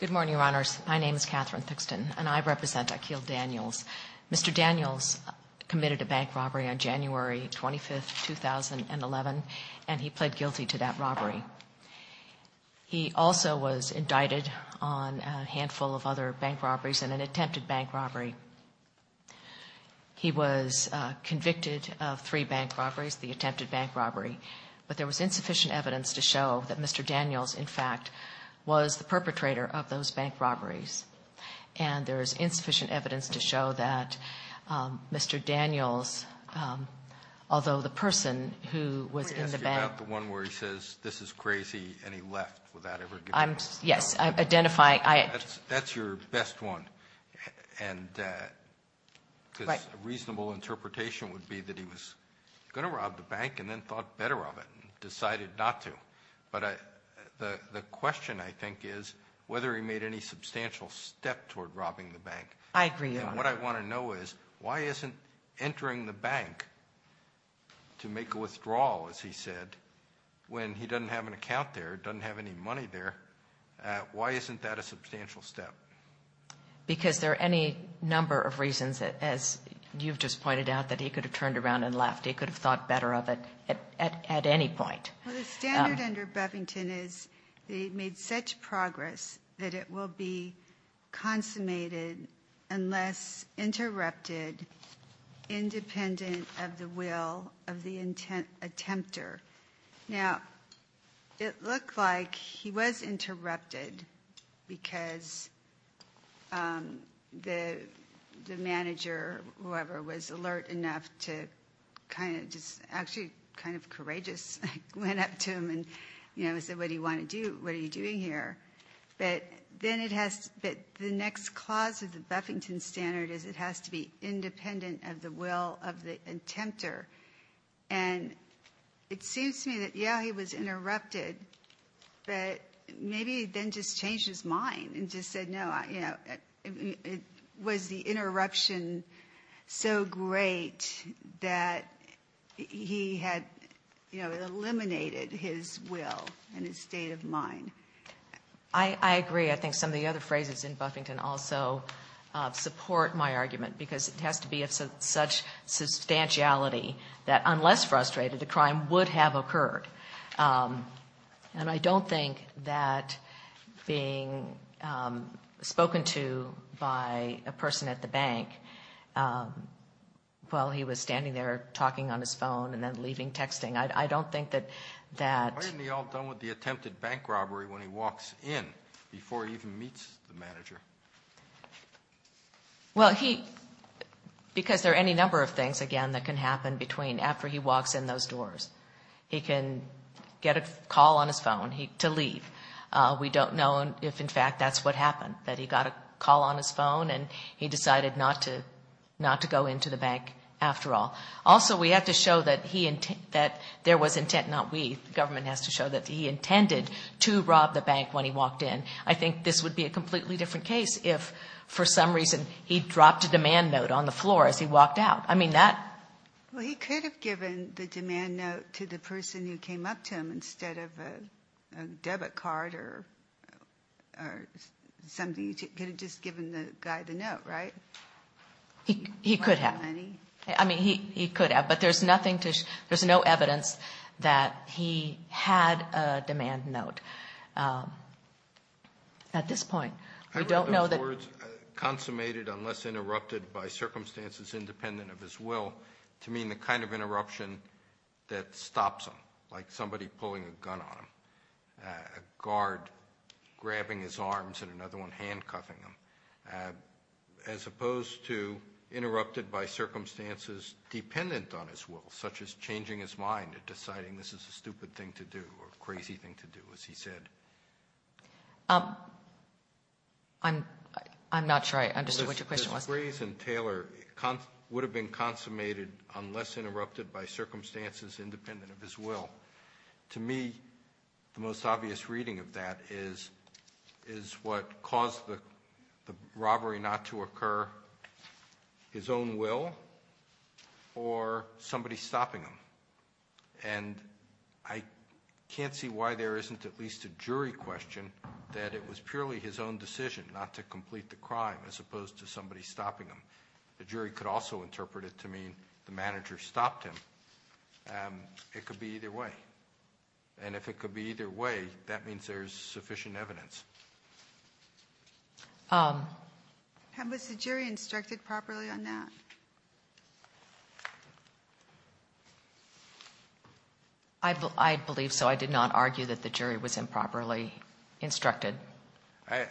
Good morning, Your Honors. My name is Catherine Thixton, and I represent Akil Daniels. Mr. Daniels committed a bank robbery on January 25, 2011, and he pled guilty to that robbery. He also was indicted on a handful of other bank robberies and an attempted bank robbery. He was convicted of three bank robberies, the attempted bank robbery, but there was insufficient evidence to show that Mr. Daniels, in fact, was the perpetrator of those bank robberies. And there is insufficient evidence to show that Mr. Daniels, although the person who was in the bank – Let me ask you about the one where he says, this is crazy, and he left without ever giving – Yes, I identify – That's your best one, and – Right. would be that he was going to rob the bank and then thought better of it and decided not to. But the question, I think, is whether he made any substantial step toward robbing the bank. I agree, Your Honor. And what I want to know is, why isn't entering the bank to make a withdrawal, as he said, when he doesn't have an account there, doesn't have any money there, why isn't that a substantial step? Because there are any number of reasons, as you've just pointed out, that he could have turned around and left. He could have thought better of it at any point. Well, the standard under Bevington is that he made such progress that it will be consummated unless interrupted, independent of the will of the attempter. Now, it looked like he was the manager, whoever, was alert enough to kind of – just actually kind of courageous, went up to him and, you know, said, what do you want to do, what are you doing here? But then it has – but the next clause of the Bevington standard is it has to be independent of the will of the attempter. And it seems to me that, yeah, he was interrupted, but maybe he then just changed his mind and just said, no, you know, was the interruption so great that he had, you know, eliminated his will and his state of mind? I agree. I think some of the other phrases in Buffington also support my argument because it has to be of such substantiality that, unless frustrated, the crime would have occurred. And I don't think that being spoken to by a person at the bank while he was standing there talking on his phone and then leaving texting, I don't think that that – Why isn't he all done with the attempted bank robbery when he walks in before he even meets the manager? Well, he – because there are any number of things, again, that can happen between after he walks in those doors. He can get a call on his phone to leave. We don't know if, in fact, that's what happened, that he got a call on his phone and he decided not to go into the bank after all. Also, we have to show that he – that there was intent, not we. The government has to show that he intended to rob the bank when he walked in. I think this would be a completely different case if, for some reason, he dropped a demand note on the floor as he walked out. I mean, that – Well, he could have given the demand note to the person who came up to him instead of a debit card or something. He could have just given the guy the note, right? He could have. Money? I mean, he could have. But there's nothing to – there's no evidence that he had a demand note at this point. We don't know that – In other words, consummated unless interrupted by circumstances independent of his will, to mean the kind of interruption that stops him, like somebody pulling a gun on him, a guard grabbing his arms and another one handcuffing him, as opposed to interrupted by circumstances dependent on his will, such as changing his mind and deciding this is a stupid thing to do or a crazy thing to do, as he said. I'm not sure I understood what your question was. Mr. Graves and Taylor would have been consummated unless interrupted by circumstances independent of his will. To me, the most obvious reading of that is what caused the robbery not to occur, his own will or somebody stopping him. And I can't see why there isn't at least a jury question that it was purely his own decision not to complete the crime as opposed to somebody stopping him. The jury could also interpret it to mean the manager stopped him. It could be either way. And if it could be either way, that means there's sufficient evidence. Was the jury instructed properly on that? I believe so. I did not argue that the jury was improperly instructed. I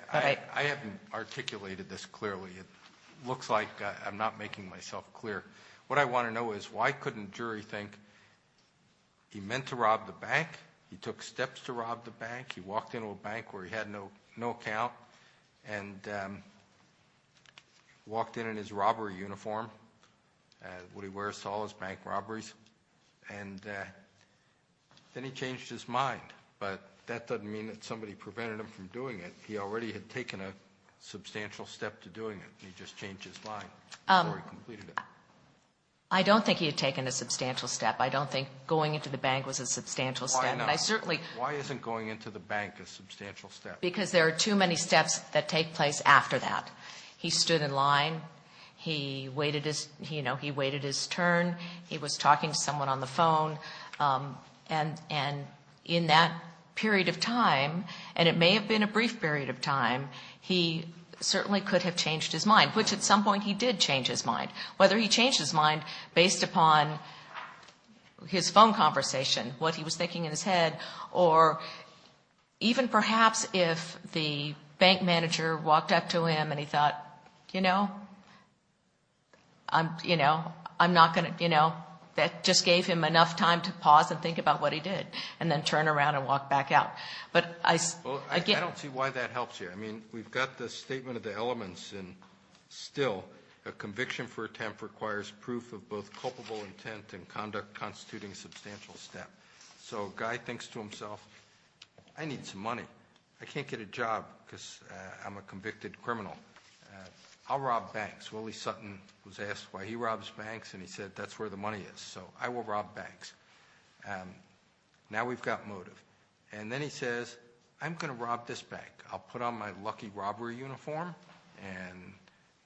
haven't articulated this clearly. It looks like I'm not making myself clear. What I want to know is why couldn't a jury think he meant to rob the bank, he took steps to rob the bank, what he wears to all his bank robberies, and then he changed his mind. But that doesn't mean that somebody prevented him from doing it. He already had taken a substantial step to doing it. He just changed his mind before he completed it. I don't think he had taken a substantial step. I don't think going into the bank was a substantial step. Why not? And I certainly Why isn't going into the bank a substantial step? Because there are too many steps that take place after that. He stood in line. He waited his turn. He was talking to someone on the phone. And in that period of time, and it may have been a brief period of time, he certainly could have changed his mind, which at some point he did change his mind, whether he changed his mind based upon his phone conversation, what he was thinking in his head, or even perhaps if the bank manager walked up to him and he thought, you know, I'm, you know, I'm not going to, you know, that just gave him enough time to pause and think about what he did and then turn around and walk back out. But I Well, I don't see why that helps here. I mean, we've got the statement of the elements and still a conviction for attempt requires proof of both culpable intent and conduct a substantial step. So guy thinks to himself, I need some money. I can't get a job because I'm a convicted criminal. I'll rob banks. Willie Sutton was asked why he robs banks. And he said, that's where the money is. So I will rob banks. Now we've got motive. And then he says, I'm going to rob this bank. I'll put on my lucky robbery uniform and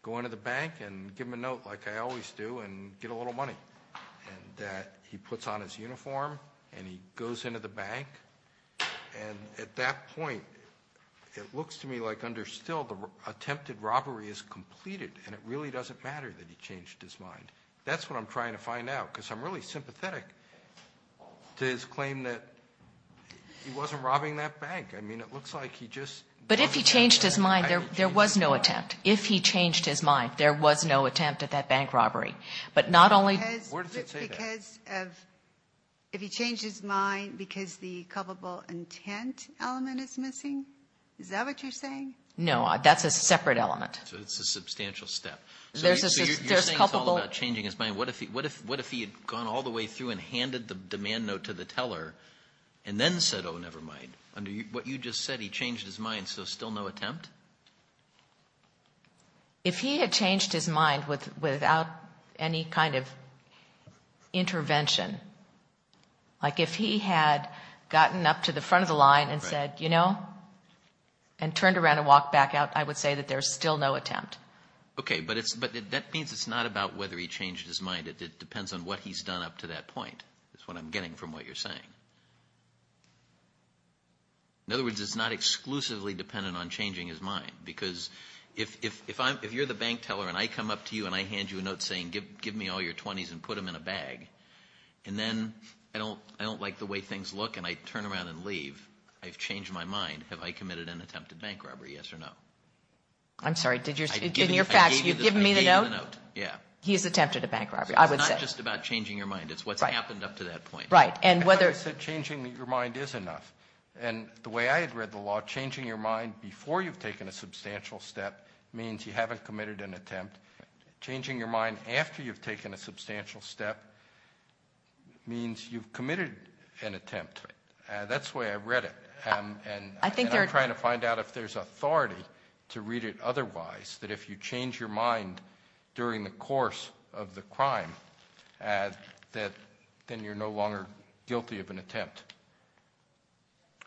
go into the bank and give him a note like I always do and get a little money. And that he puts on his uniform and he goes into the bank. And at that point, it looks to me like under still the attempted robbery is completed and it really doesn't matter that he changed his mind. That's what I'm trying to find out because I'm really sympathetic to his claim that he wasn't robbing that bank. I mean, it looks like he just But if he changed his mind, there was no attempt. If he changed his mind, there was no attempt at that bank robbery. But not only Where does it say that? Because of, if he changed his mind because the culpable intent element is missing? Is that what you're saying? No, that's a separate element. So it's a substantial step. There's culpable So you're saying it's all about changing his mind. What if he had gone all the way through and handed the demand note to the teller and then said, oh, never mind. What you just said, he changed his mind, so still no attempt? If he had changed his mind without any kind of intervention, like if he had gotten up to the front of the line and said, you know, and turned around and walked back out, I would say that there's still no attempt. Okay, but that means it's not about whether he changed his mind. It depends on what he's done up to that point is what I'm getting from what you're saying. In other words, it's not exclusively dependent on changing his mind, because if you're the bank teller and I come up to you and I hand you a note saying, give me all your 20s and put them in a bag, and then I don't like the way things look and I turn around and leave, I've changed my mind. Have I committed an attempted bank robbery? Yes or no? I'm sorry. In your facts, you've given me the note? Yeah. He's attempted a bank robbery, I would say. It's not just about changing your mind. It's what's happened up to that point. As I said, changing your mind is enough. And the way I had read the law, changing your mind before you've taken a substantial step means you haven't committed an attempt. Changing your mind after you've taken a substantial step means you've committed an attempt. That's the way I read it. And I'm trying to find out if there's authority to read it otherwise, that if you change your mind during the course of the crime, then you're no longer guilty of an attempt.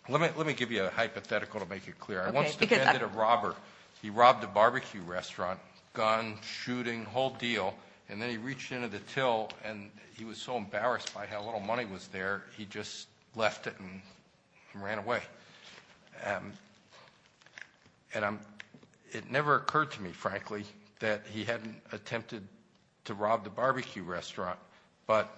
Let me give you a hypothetical to make it clear. Okay. I once demanded a robber. He robbed a barbecue restaurant, gun, shooting, whole deal, and then he reached into the till and he was so embarrassed by how little money was there, he just left it and ran away. And it never occurred to me, frankly, that he hadn't attempted to rob the barbecue restaurant, but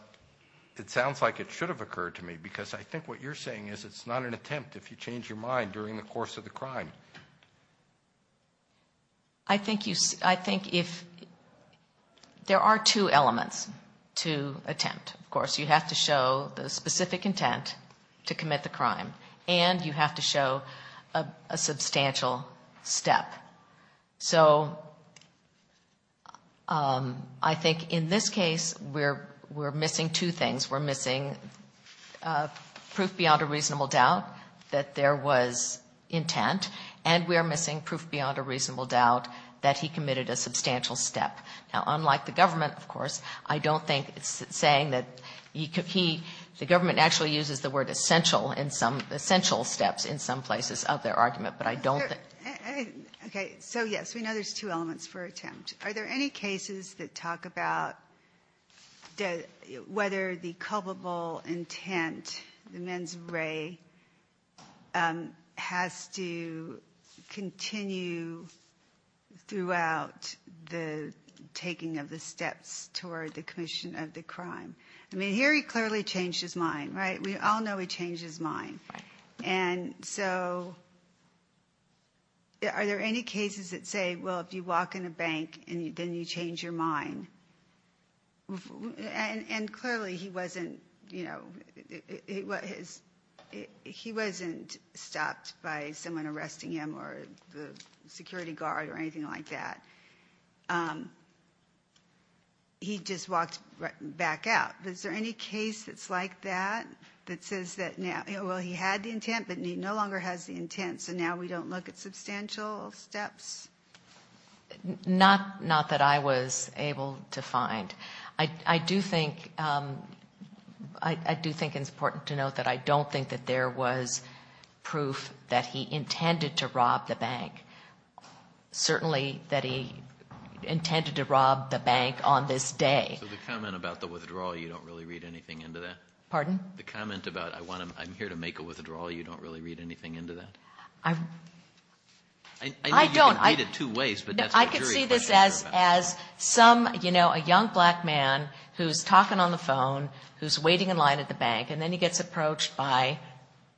it sounds like it should have occurred to me because I think what you're saying is it's not an attempt if you change your mind during the course of the crime. I think there are two elements to attempt. Of course, you have to show the specific intent to commit the crime and you have to show a substantial step. So I think in this case we're missing two things. We're missing proof beyond a reasonable doubt that there was intent and we're missing proof beyond a reasonable doubt that he committed a substantial step. Now, unlike the government, of course, I don't think it's saying that he could be the government actually uses the word essential in some essential steps in some places of their argument, but I don't think. Okay. So, yes, we know there's two elements for attempt. Are there any cases that continue throughout the taking of the steps toward the commission of the crime? I mean, here he clearly changed his mind, right? We all know he changed his mind. And so are there any cases that say, well, if you walk in a bank and then you change your mind? And clearly he wasn't, you know, he wasn't stopped by someone arresting him or the security guard or anything like that. He just walked back out. Is there any case that's like that that says that now, well, he had the intent, but he no longer has the intent. So now we don't look at substantial steps? Not that I was able to find. I do think it's important to note that I don't think that there was proof that he intended to rob the bank. Certainly that he intended to rob the bank on this day. So the comment about the withdrawal, you don't really read anything into that? Pardon? The comment about I'm here to make a withdrawal, you don't really read anything into that? I don't. I know you can read it two ways, but that's what jury questions are about. I could see this as some, you know, a young black man who's talking on the phone, who's waiting in line at the bank, and then he gets approached by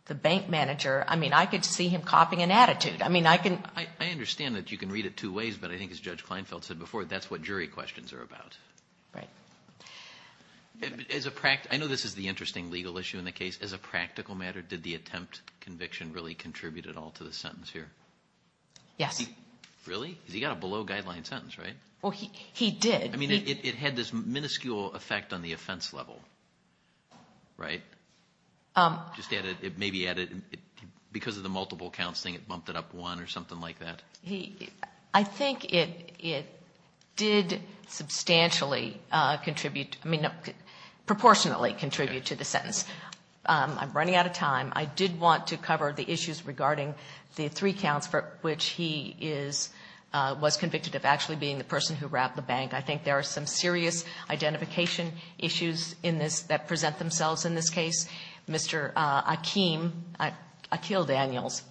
the bank manager. I mean, I could see him copying an attitude. I mean, I can... I understand that you can read it two ways, but I think as Judge Kleinfeld said before, that's what jury questions are about. Right. I know this is the interesting legal issue in the case. As a practical matter, did the judge contribute at all to the sentence here? Yes. Really? Because he got a below-guideline sentence, right? Well, he did. I mean, it had this minuscule effect on the offense level, right? Just added, maybe added, because of the multiple counts thing, it bumped it up one or something like that? I think it did substantially contribute, I mean, proportionally contribute to the sentence. I'm running out of time. I did want to cover the issues regarding the three counts for which he was convicted of actually being the person who robbed the bank. I think there are some serious identification issues in this that present themselves in this case. Mr. Akeem, Akeel Daniels,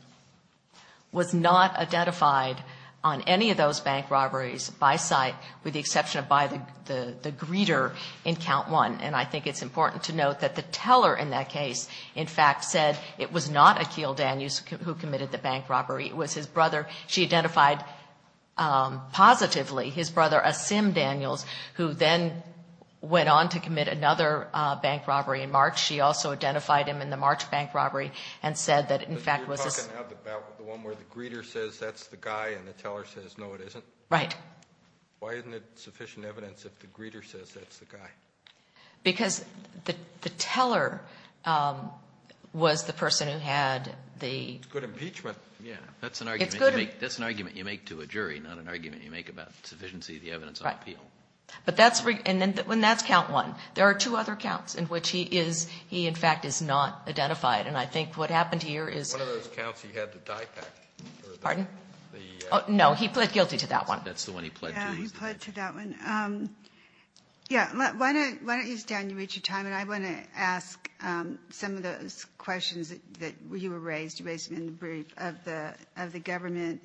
was not identified on any of those bank robberies by sight, with the exception of by the greeter in count one. And I think it's important to note that the teller in that case, in fact, said it was not Akeel Daniels who committed the bank robbery. It was his brother. She identified positively his brother, Asim Daniels, who then went on to commit another bank robbery in March. She also identified him in the March bank robbery and said that, in fact, it was a ---- But you're talking about the one where the greeter says that's the guy and the teller says, no, it isn't? Right. Why isn't it sufficient evidence if the greeter says that's the guy? Because the teller was the person who had the ---- It's good impeachment. Yes. It's good ---- That's an argument you make to a jury, not an argument you make about sufficiency of the evidence on appeal. Right. But that's ---- and that's count one. There are two other counts in which he is ---- he, in fact, is not identified. And I think what happened here is ---- One of those counts, he had the dye pack. Pardon? The ---- No, he pled guilty to that one. That's the one he pled guilty to. Yeah, he pled to that one. Yeah. Why don't you stand? You reached your time. And I want to ask some of those questions that you raised, you raised them in the brief, of the government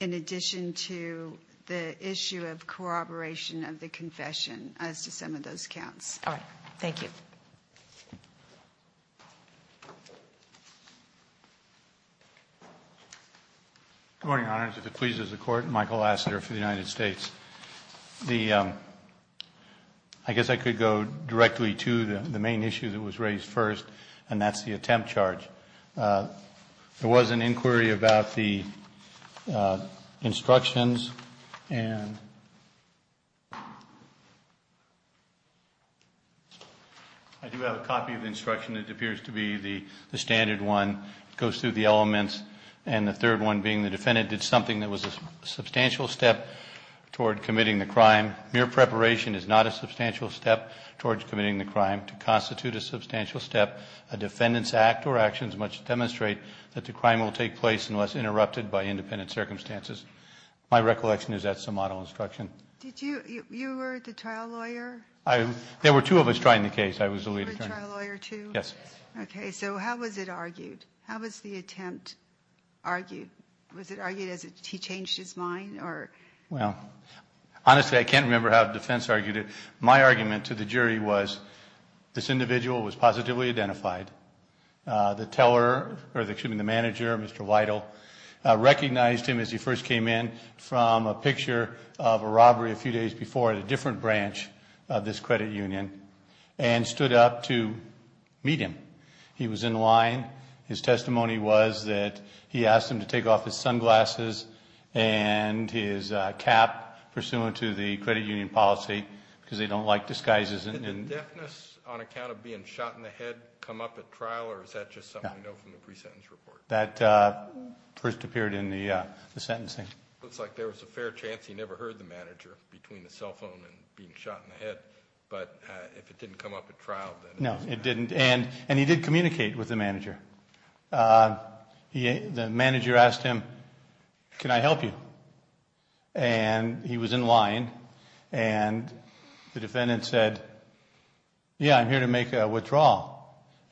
in addition to the issue of corroboration of the confession as to some of those counts. All right. Thank you. Good morning, Your Honors. If it pleases the Court, Michael Lassiter for the United States. The ---- I guess I could go directly to the main issue that was raised first, and that's the attempt charge. There was an inquiry about the instructions and ---- I do have a copy of the instruction. It appears to be the standard one. It goes through the elements. And the third one being the defendant did something that was a substantial step toward committing the crime. Mere preparation is not a substantial step toward committing the crime. To constitute a substantial step, a defendant's act or actions must demonstrate that the crime will take place unless interrupted by independent circumstances. My recollection is that's the model instruction. Did you, you were the trial lawyer? I, there were two of us trying the case. I was the lead attorney. You were the trial lawyer too? Yes. Okay. So how was it argued? How was the attempt argued? Was it argued as he changed his mind or? Well, honestly, I can't remember how defense argued it. My argument to the jury was this individual was positively identified. The teller, or excuse me, the manager, Mr. Weidel, recognized him as he first came in from a picture of a robbery a few days before at a different branch of this credit union and stood up to meet him. He was in line. His testimony was that he asked him to take off his sunglasses and his cap, pursuant to the credit union policy, because they don't like disguises. Did the deafness on account of being shot in the head come up at trial or is that just something we know from the pre-sentence report? That first appeared in the sentencing. Looks like there was a fair chance he never heard the manager between the cell phone and being shot in the head, but if it didn't come up at trial, then. No, it didn't, and he did communicate with the manager. The manager asked him, can I help you? And he was in line, and the defendant said, yeah, I'm here to make a withdrawal.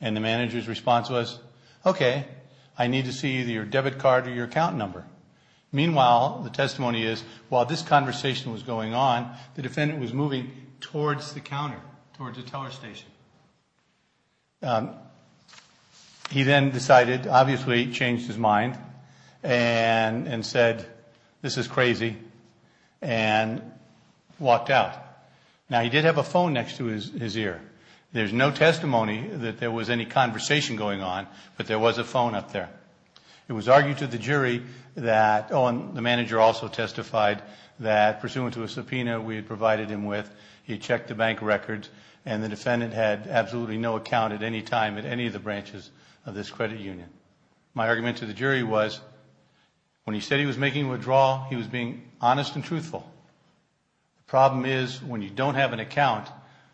And the manager's response was, okay, I need to see either your debit card or your account number. Meanwhile, the testimony is, while this conversation was going on, the defendant was moving towards the counter, towards the teller station. He then decided, obviously changed his mind, and said, this is crazy, and walked out. Now, he did have a phone next to his ear. There's no testimony that there was any conversation going on, but there was a phone up there. It was argued to the jury that, oh, and the manager also testified that, pursuant to a subpoena we had provided him with, he had checked the bank records, and the defendant had absolutely no account at any time at any of the branches of this credit union. My argument to the jury was, when he said he was making a withdrawal, he was being honest and truthful. The problem is, when you don't have an account,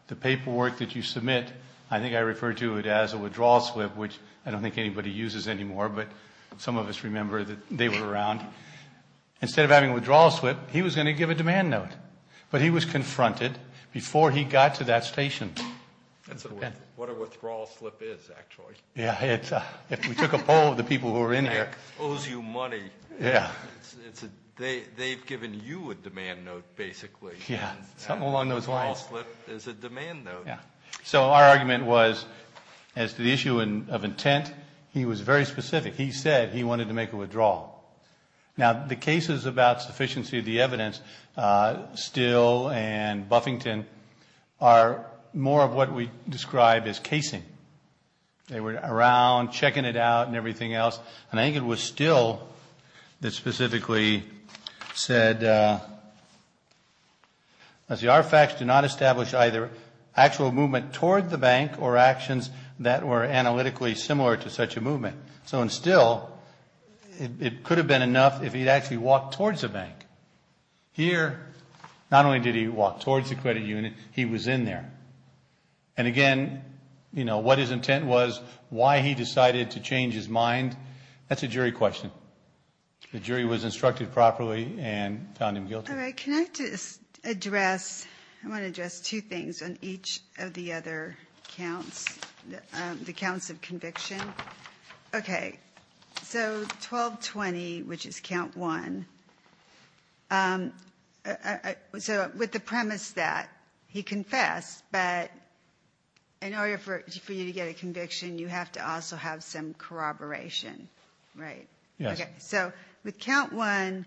the paperwork that you submit, I think I refer to it as a withdrawal slip, which I don't think anybody uses anymore, but some of us remember that they were around. Instead of having a withdrawal slip, he was going to give a demand note. But he was confronted before he got to that station. That's what a withdrawal slip is, actually. Yeah, we took a poll of the people who were in here. Bank owes you money. Yeah. They've given you a demand note, basically. Yeah, something along those lines. Withdrawal slip is a demand note. Yeah. So our argument was, as to the issue of intent, he was very specific. He said he wanted to make a withdrawal. Now, the cases about sufficiency of the evidence, Still and Buffington, are more of what we describe as casing. They were around, checking it out and everything else, and I think it was Still that specifically said, our facts do not establish either actual movement toward the bank or actions that were analytically similar to such a movement. So in Still, it could have been enough if he had actually walked towards the bank. Here, not only did he walk towards the credit unit, he was in there. And again, what his intent was, why he decided to change his mind, that's a jury question. So the jury was instructed properly and found him guilty. All right. Can I just address, I want to address two things on each of the other counts, the counts of conviction. Okay. So 1220, which is count one. So with the premise that he confessed, but in order for you to get a conviction, you have to also have some corroboration, right? Yes. So with count one,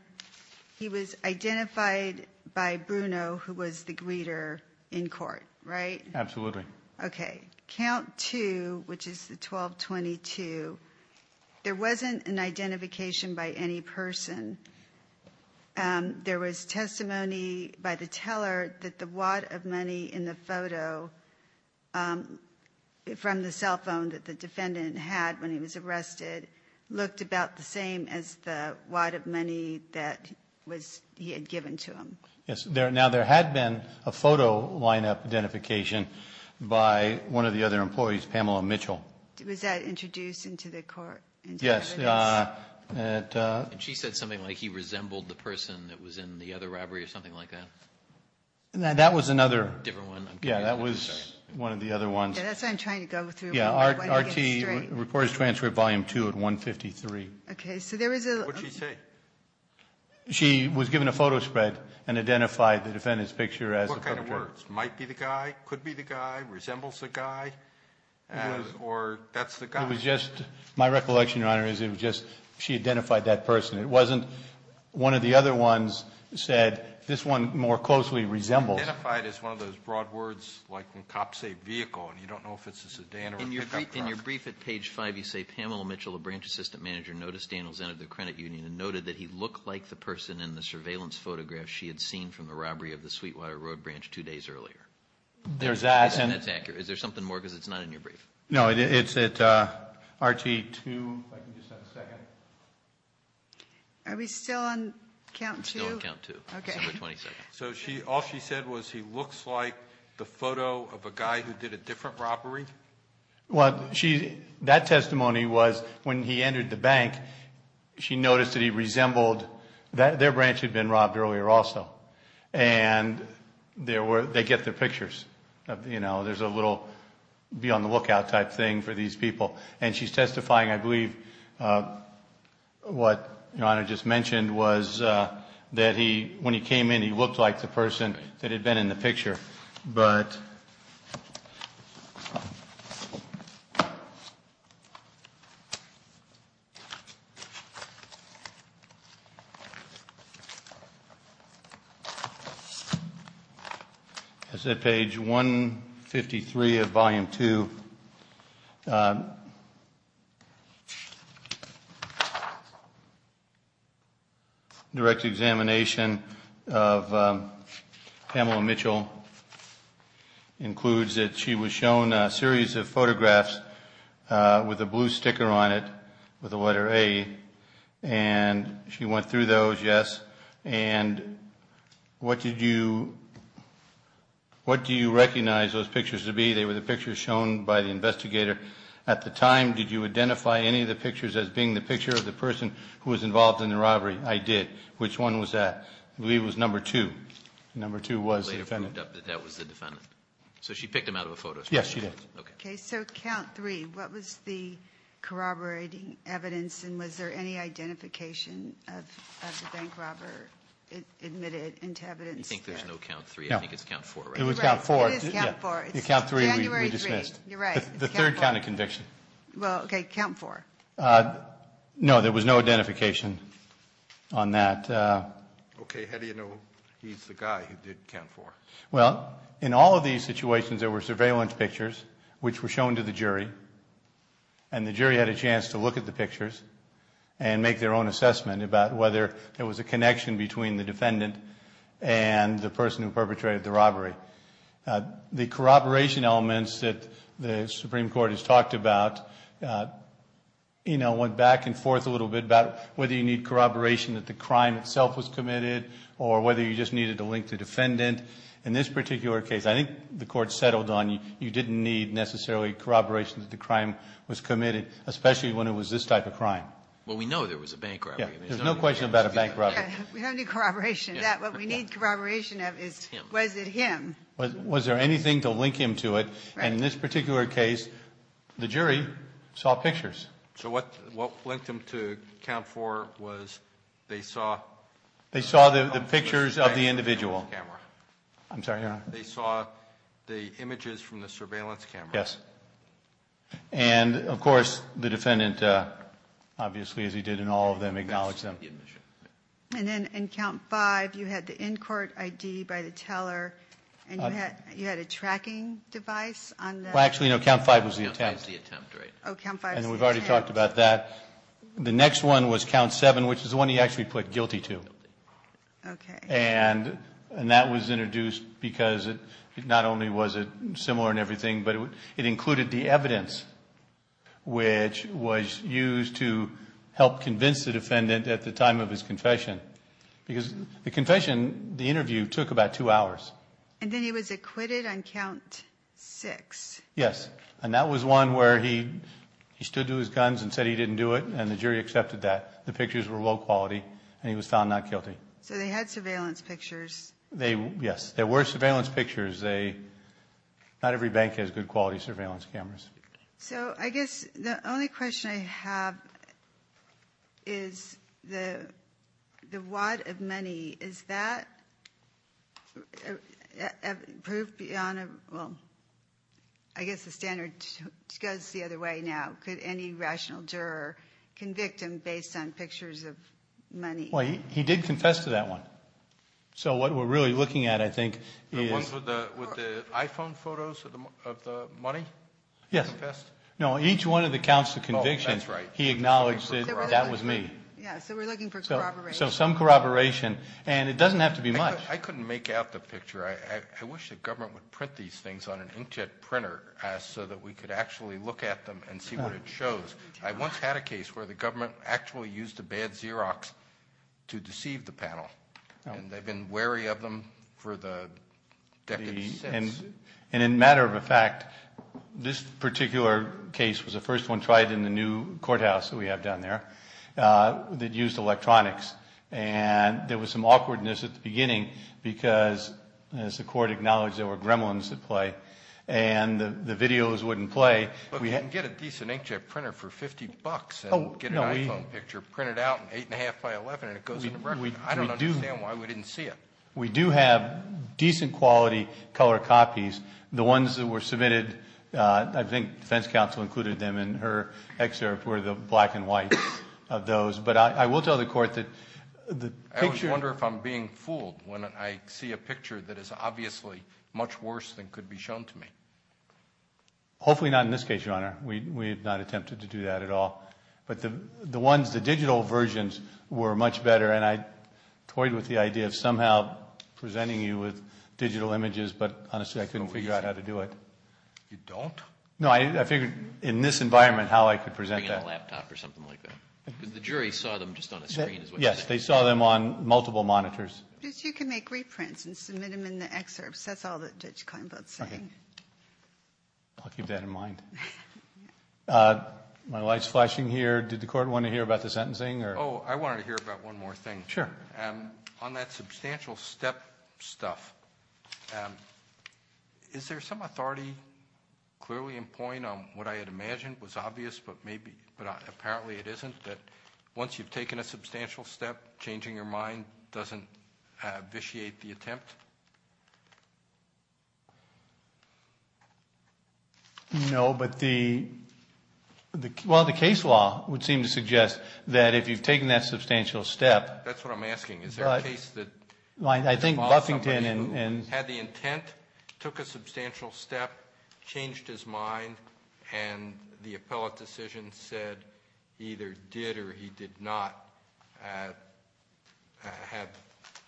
he was identified by Bruno, who was the greeter in court, right? Absolutely. Okay. Count two, which is the 1222, there wasn't an identification by any person. There was testimony by the teller that the wad of money in the photo from the cell phone that the defendant had when he was arrested looked about the same as the wad of money that he had given to him. Yes. Now, there had been a photo lineup identification by one of the other employees, Pamela Mitchell. Was that introduced into the court? Yes. And she said something like he resembled the person that was in the other robbery or something like that? That was another. Different one. Yes. That was one of the other ones. Yes. That's what I'm trying to go through. Yes. R.T. Reporters Transfer Volume 2 at 153. Okay. So there was a ---- What did she say? She was given a photo spread and identified the defendant's picture as the perpetrator. What kind of words? Might be the guy? Could be the guy? Resembles the guy? Or that's the guy? My recollection, Your Honor, is it was just she identified that person. It wasn't one of the other ones said this one more closely resembles. Identified is one of those broad words like when cops say vehicle and you don't know if it's a sedan or a pickup truck. In your brief at page 5, you say Pamela Mitchell, a branch assistant manager, noticed Daniel Zenner at the credit union and noted that he looked like the person in the surveillance photograph she had seen from the robbery of the Sweetwater Road branch two days earlier. There's that. That's accurate. Is there something more? Because it's not in your brief. No, it's at RG2. If I can just have a second. Are we still on count two? We're still on count two. Okay. So all she said was he looks like the photo of a guy who did a different robbery? Well, that testimony was when he entered the bank, she noticed that he resembled. Their branch had been robbed earlier also. And they get their pictures. There's a little be on the lookout type thing for these people. And she's testifying, I believe, what your Honor just mentioned was that when he came in, he looked like the person that had been in the picture. But. As I said, page 153 of volume two. Direct examination of Pamela Mitchell includes that she was shown a series of photographs with a blue sticker on it with the letter A. And she went through those, yes. And what did you recognize those pictures to be? They were the pictures shown by the investigator at the time. Did you identify any of the pictures as being the picture of the person who was involved in the robbery? I did. Which one was that? I believe it was number two. Number two was the defendant. That was the defendant. So she picked him out of the photos? Yes, she did. Okay. So count three. What was the corroborating evidence? And was there any identification of the bank robber admitted into evidence? I think there's no count three. I think it's count four, right? It was count four. It is count four. It's January three. We dismissed. You're right. It's count four. The third county conviction. Well, okay, count four. No, there was no identification on that. Okay. How do you know he's the guy who did count four? Well, in all of these situations, there were surveillance pictures which were shown to the jury. And the jury had a chance to look at the pictures and make their own assessment about whether there was a connection between the defendant and the person who perpetrated the robbery. The corroboration elements that the Supreme Court has talked about, you know, went back and forth a little bit about whether you need corroboration that the crime itself was committed or whether you just needed to link the defendant. In this particular case, I think the Court settled on you didn't need necessarily corroboration that the crime was committed, especially when it was this type of crime. Well, we know there was a bank robbery. There's no question about a bank robbery. We don't need corroboration of that. What we need corroboration of is was it him. Was there anything to link him to it? And in this particular case, the jury saw pictures. So what linked them to count four was they saw the pictures of the individual. I'm sorry. They saw the images from the surveillance camera. Yes. And, of course, the defendant, obviously, as he did in all of them, acknowledged them. And then in count five, you had the in-court ID by the teller, and you had a tracking device on that? Well, actually, no, count five was the attempt. Count five was the attempt, right. Oh, count five was the attempt. And we've already talked about that. The next one was count seven, which is the one he actually pled guilty to. Okay. And that was introduced because not only was it similar in everything, but it included the evidence, which was used to help convince the defendant at the time of his confession. Because the confession, the interview, took about two hours. And then he was acquitted on count six. Yes. And that was one where he stood to his guns and said he didn't do it, and the jury accepted that. The pictures were low quality, and he was found not guilty. So they had surveillance pictures. Yes. There were surveillance pictures. Not every bank has good quality surveillance cameras. So I guess the only question I have is the wad of money, is that proof beyond, well, I guess the standard goes the other way now. Could any rational juror convict him based on pictures of money? Well, he did confess to that one. So what we're really looking at, I think, is – The ones with the iPhone photos of the money? Yes. Confessed? No, each one of the counts of conviction, he acknowledged that that was me. So we're looking for corroboration. So some corroboration. And it doesn't have to be much. I couldn't make out the picture. I wish the government would print these things on an inkjet printer so that we could actually look at them and see what it shows. I once had a case where the government actually used a bad Xerox to deceive the panel. And they've been wary of them for the decades since. And in matter of a fact, this particular case was the first one tried in the new courthouse that we have down there that used electronics. And there was some awkwardness at the beginning because, as the court acknowledged, there were gremlins at play. And the videos wouldn't play. But we can get a decent inkjet printer for $50 and get an iPhone picture printed out in 8.5 by 11 and it goes in the record. I don't understand why we didn't see it. We do have decent quality color copies. The ones that were submitted, I think defense counsel included them in her excerpt, were the black and white of those. But I will tell the court that the picture – I always wonder if I'm being fooled when I see a picture that is obviously much worse than could be shown to me. Hopefully not in this case, Your Honor. We have not attempted to do that at all. But the ones, the digital versions were much better. And I toyed with the idea of somehow presenting you with digital images. But honestly, I couldn't figure out how to do it. You don't? No, I figured in this environment how I could present that. Bring in a laptop or something like that. Because the jury saw them just on a screen. Yes, they saw them on multiple monitors. You can make reprints and submit them in the excerpts. That's all that Judge Kleinblatt is saying. I'll keep that in mind. My light is flashing here. Did the court want to hear about the sentencing? Oh, I wanted to hear about one more thing. Sure. On that substantial step stuff, is there some authority clearly in point on what I had imagined was obvious, but apparently it isn't, that once you've taken a substantial step, changing your mind doesn't vitiate the attempt? No, but the case law would seem to suggest that if you've taken that substantial step. That's what I'm asking. Is there a case that involved somebody who had the intent, took a substantial step, changed his mind, and the appellate decision said he either did or he did not have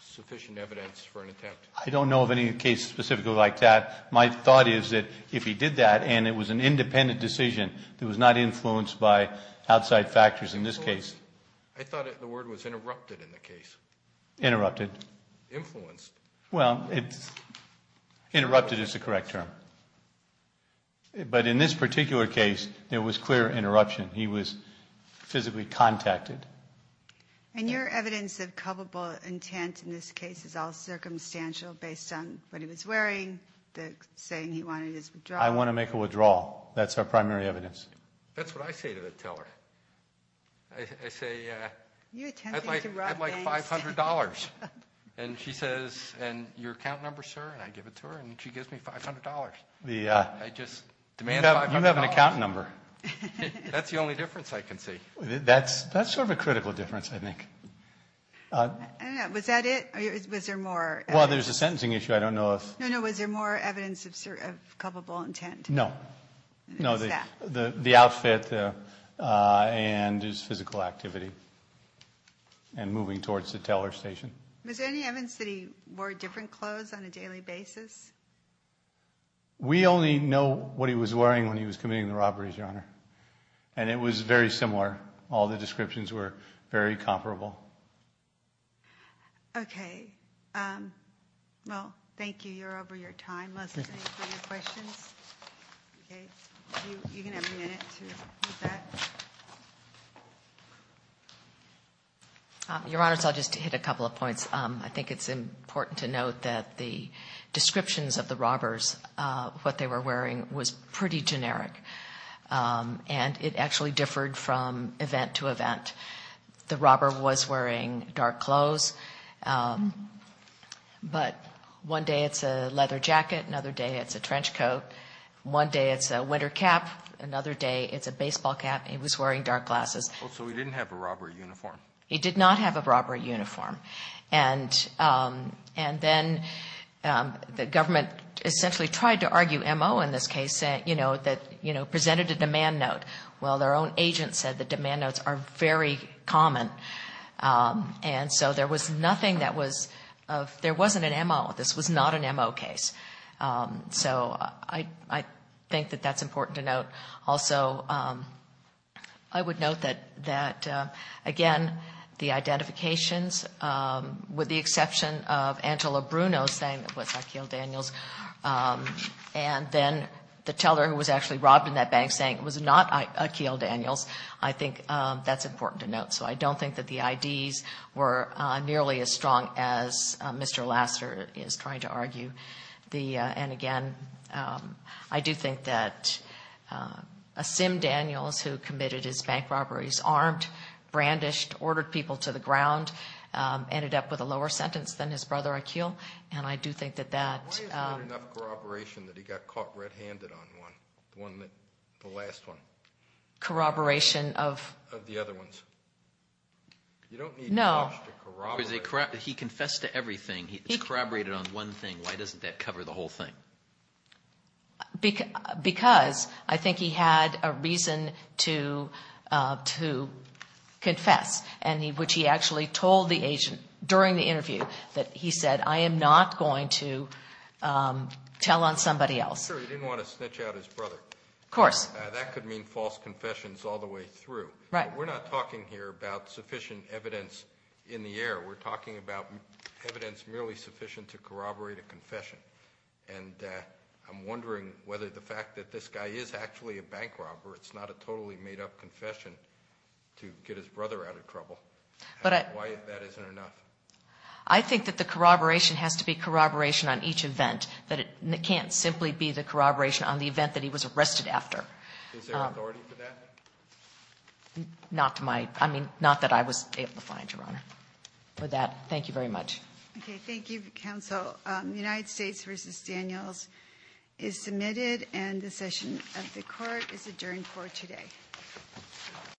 sufficient evidence for an attempt? I don't know of any case specifically like that. My thought is that if he did that and it was an independent decision that was not influenced by outside factors in this case. I thought the word was interrupted in the case. Interrupted. Influenced. Well, interrupted is the correct term. But in this particular case, there was clear interruption. He was physically contacted. And your evidence of culpable intent in this case is all circumstantial based on what he was wearing, saying he wanted his withdrawal. I want to make a withdrawal. That's our primary evidence. That's what I say to the teller. I say, I'd like $500. And she says, and your account number, sir? And I give it to her, and she gives me $500. I just demand $500. You have an account number. That's the only difference I can see. That's sort of a critical difference, I think. I don't know. Was that it? Was there more? Well, there's a sentencing issue. I don't know if. No, no. Was there more evidence of culpable intent? No. No, the outfit and his physical activity. And moving towards the teller station. Was there any evidence that he wore different clothes on a daily basis? We only know what he was wearing when he was committing the robberies, Your Honor. And it was very similar. All the descriptions were very comparable. Okay. Well, thank you. You're over your time. Let's thank you for your questions. Okay. You can have a minute to move back. Your Honor, so I'll just hit a couple of points. I think it's important to note that the descriptions of the robbers, what they were wearing, was pretty generic. And it actually differed from event to event. The robber was wearing dark clothes. But one day it's a leather jacket. Another day it's a trench coat. One day it's a winter cap. Another day it's a baseball cap. He was wearing dark glasses. So he didn't have a robbery uniform? He did not have a robbery uniform. And then the government essentially tried to argue M.O. in this case, you know, that, you know, presented a demand note. Well, their own agent said the demand notes are very common. And so there was nothing that was of, there wasn't an M.O. This was not an M.O. case. So I think that that's important to note. Also, I would note that, again, the identifications, with the exception of Angela Bruno saying it was Akeel Daniels, and then the teller who was actually robbed in that bank saying it was not Akeel Daniels, I think that's important to note. So I don't think that the IDs were nearly as strong as Mr. Lasseter is trying to argue. And, again, I do think that a Sim Daniels who committed his bank robberies, armed, brandished, ordered people to the ground, ended up with a lower sentence than his brother Akeel. And I do think that that — Why is there not enough corroboration that he got caught red-handed on one, the last one? Corroboration of? Of the other ones. You don't need much to corroborate. No. He confessed to everything. He corroborated on one thing. Why doesn't that cover the whole thing? Because I think he had a reason to confess, which he actually told the agent during the interview that he said, I am not going to tell on somebody else. Sure, he didn't want to snitch out his brother. Of course. That could mean false confessions all the way through. Right. But we're not talking here about sufficient evidence in the air. We're talking about evidence merely sufficient to corroborate a confession. And I'm wondering whether the fact that this guy is actually a bank robber, it's not a totally made-up confession to get his brother out of trouble. Why that isn't enough? I think that the corroboration has to be corroboration on each event. It can't simply be the corroboration on the event that he was arrested after. Is there authority for that? Not that I was able to find, Your Honor. With that, thank you very much. Okay. Thank you, counsel. United States v. Daniels is submitted, and the session of the court is adjourned for today.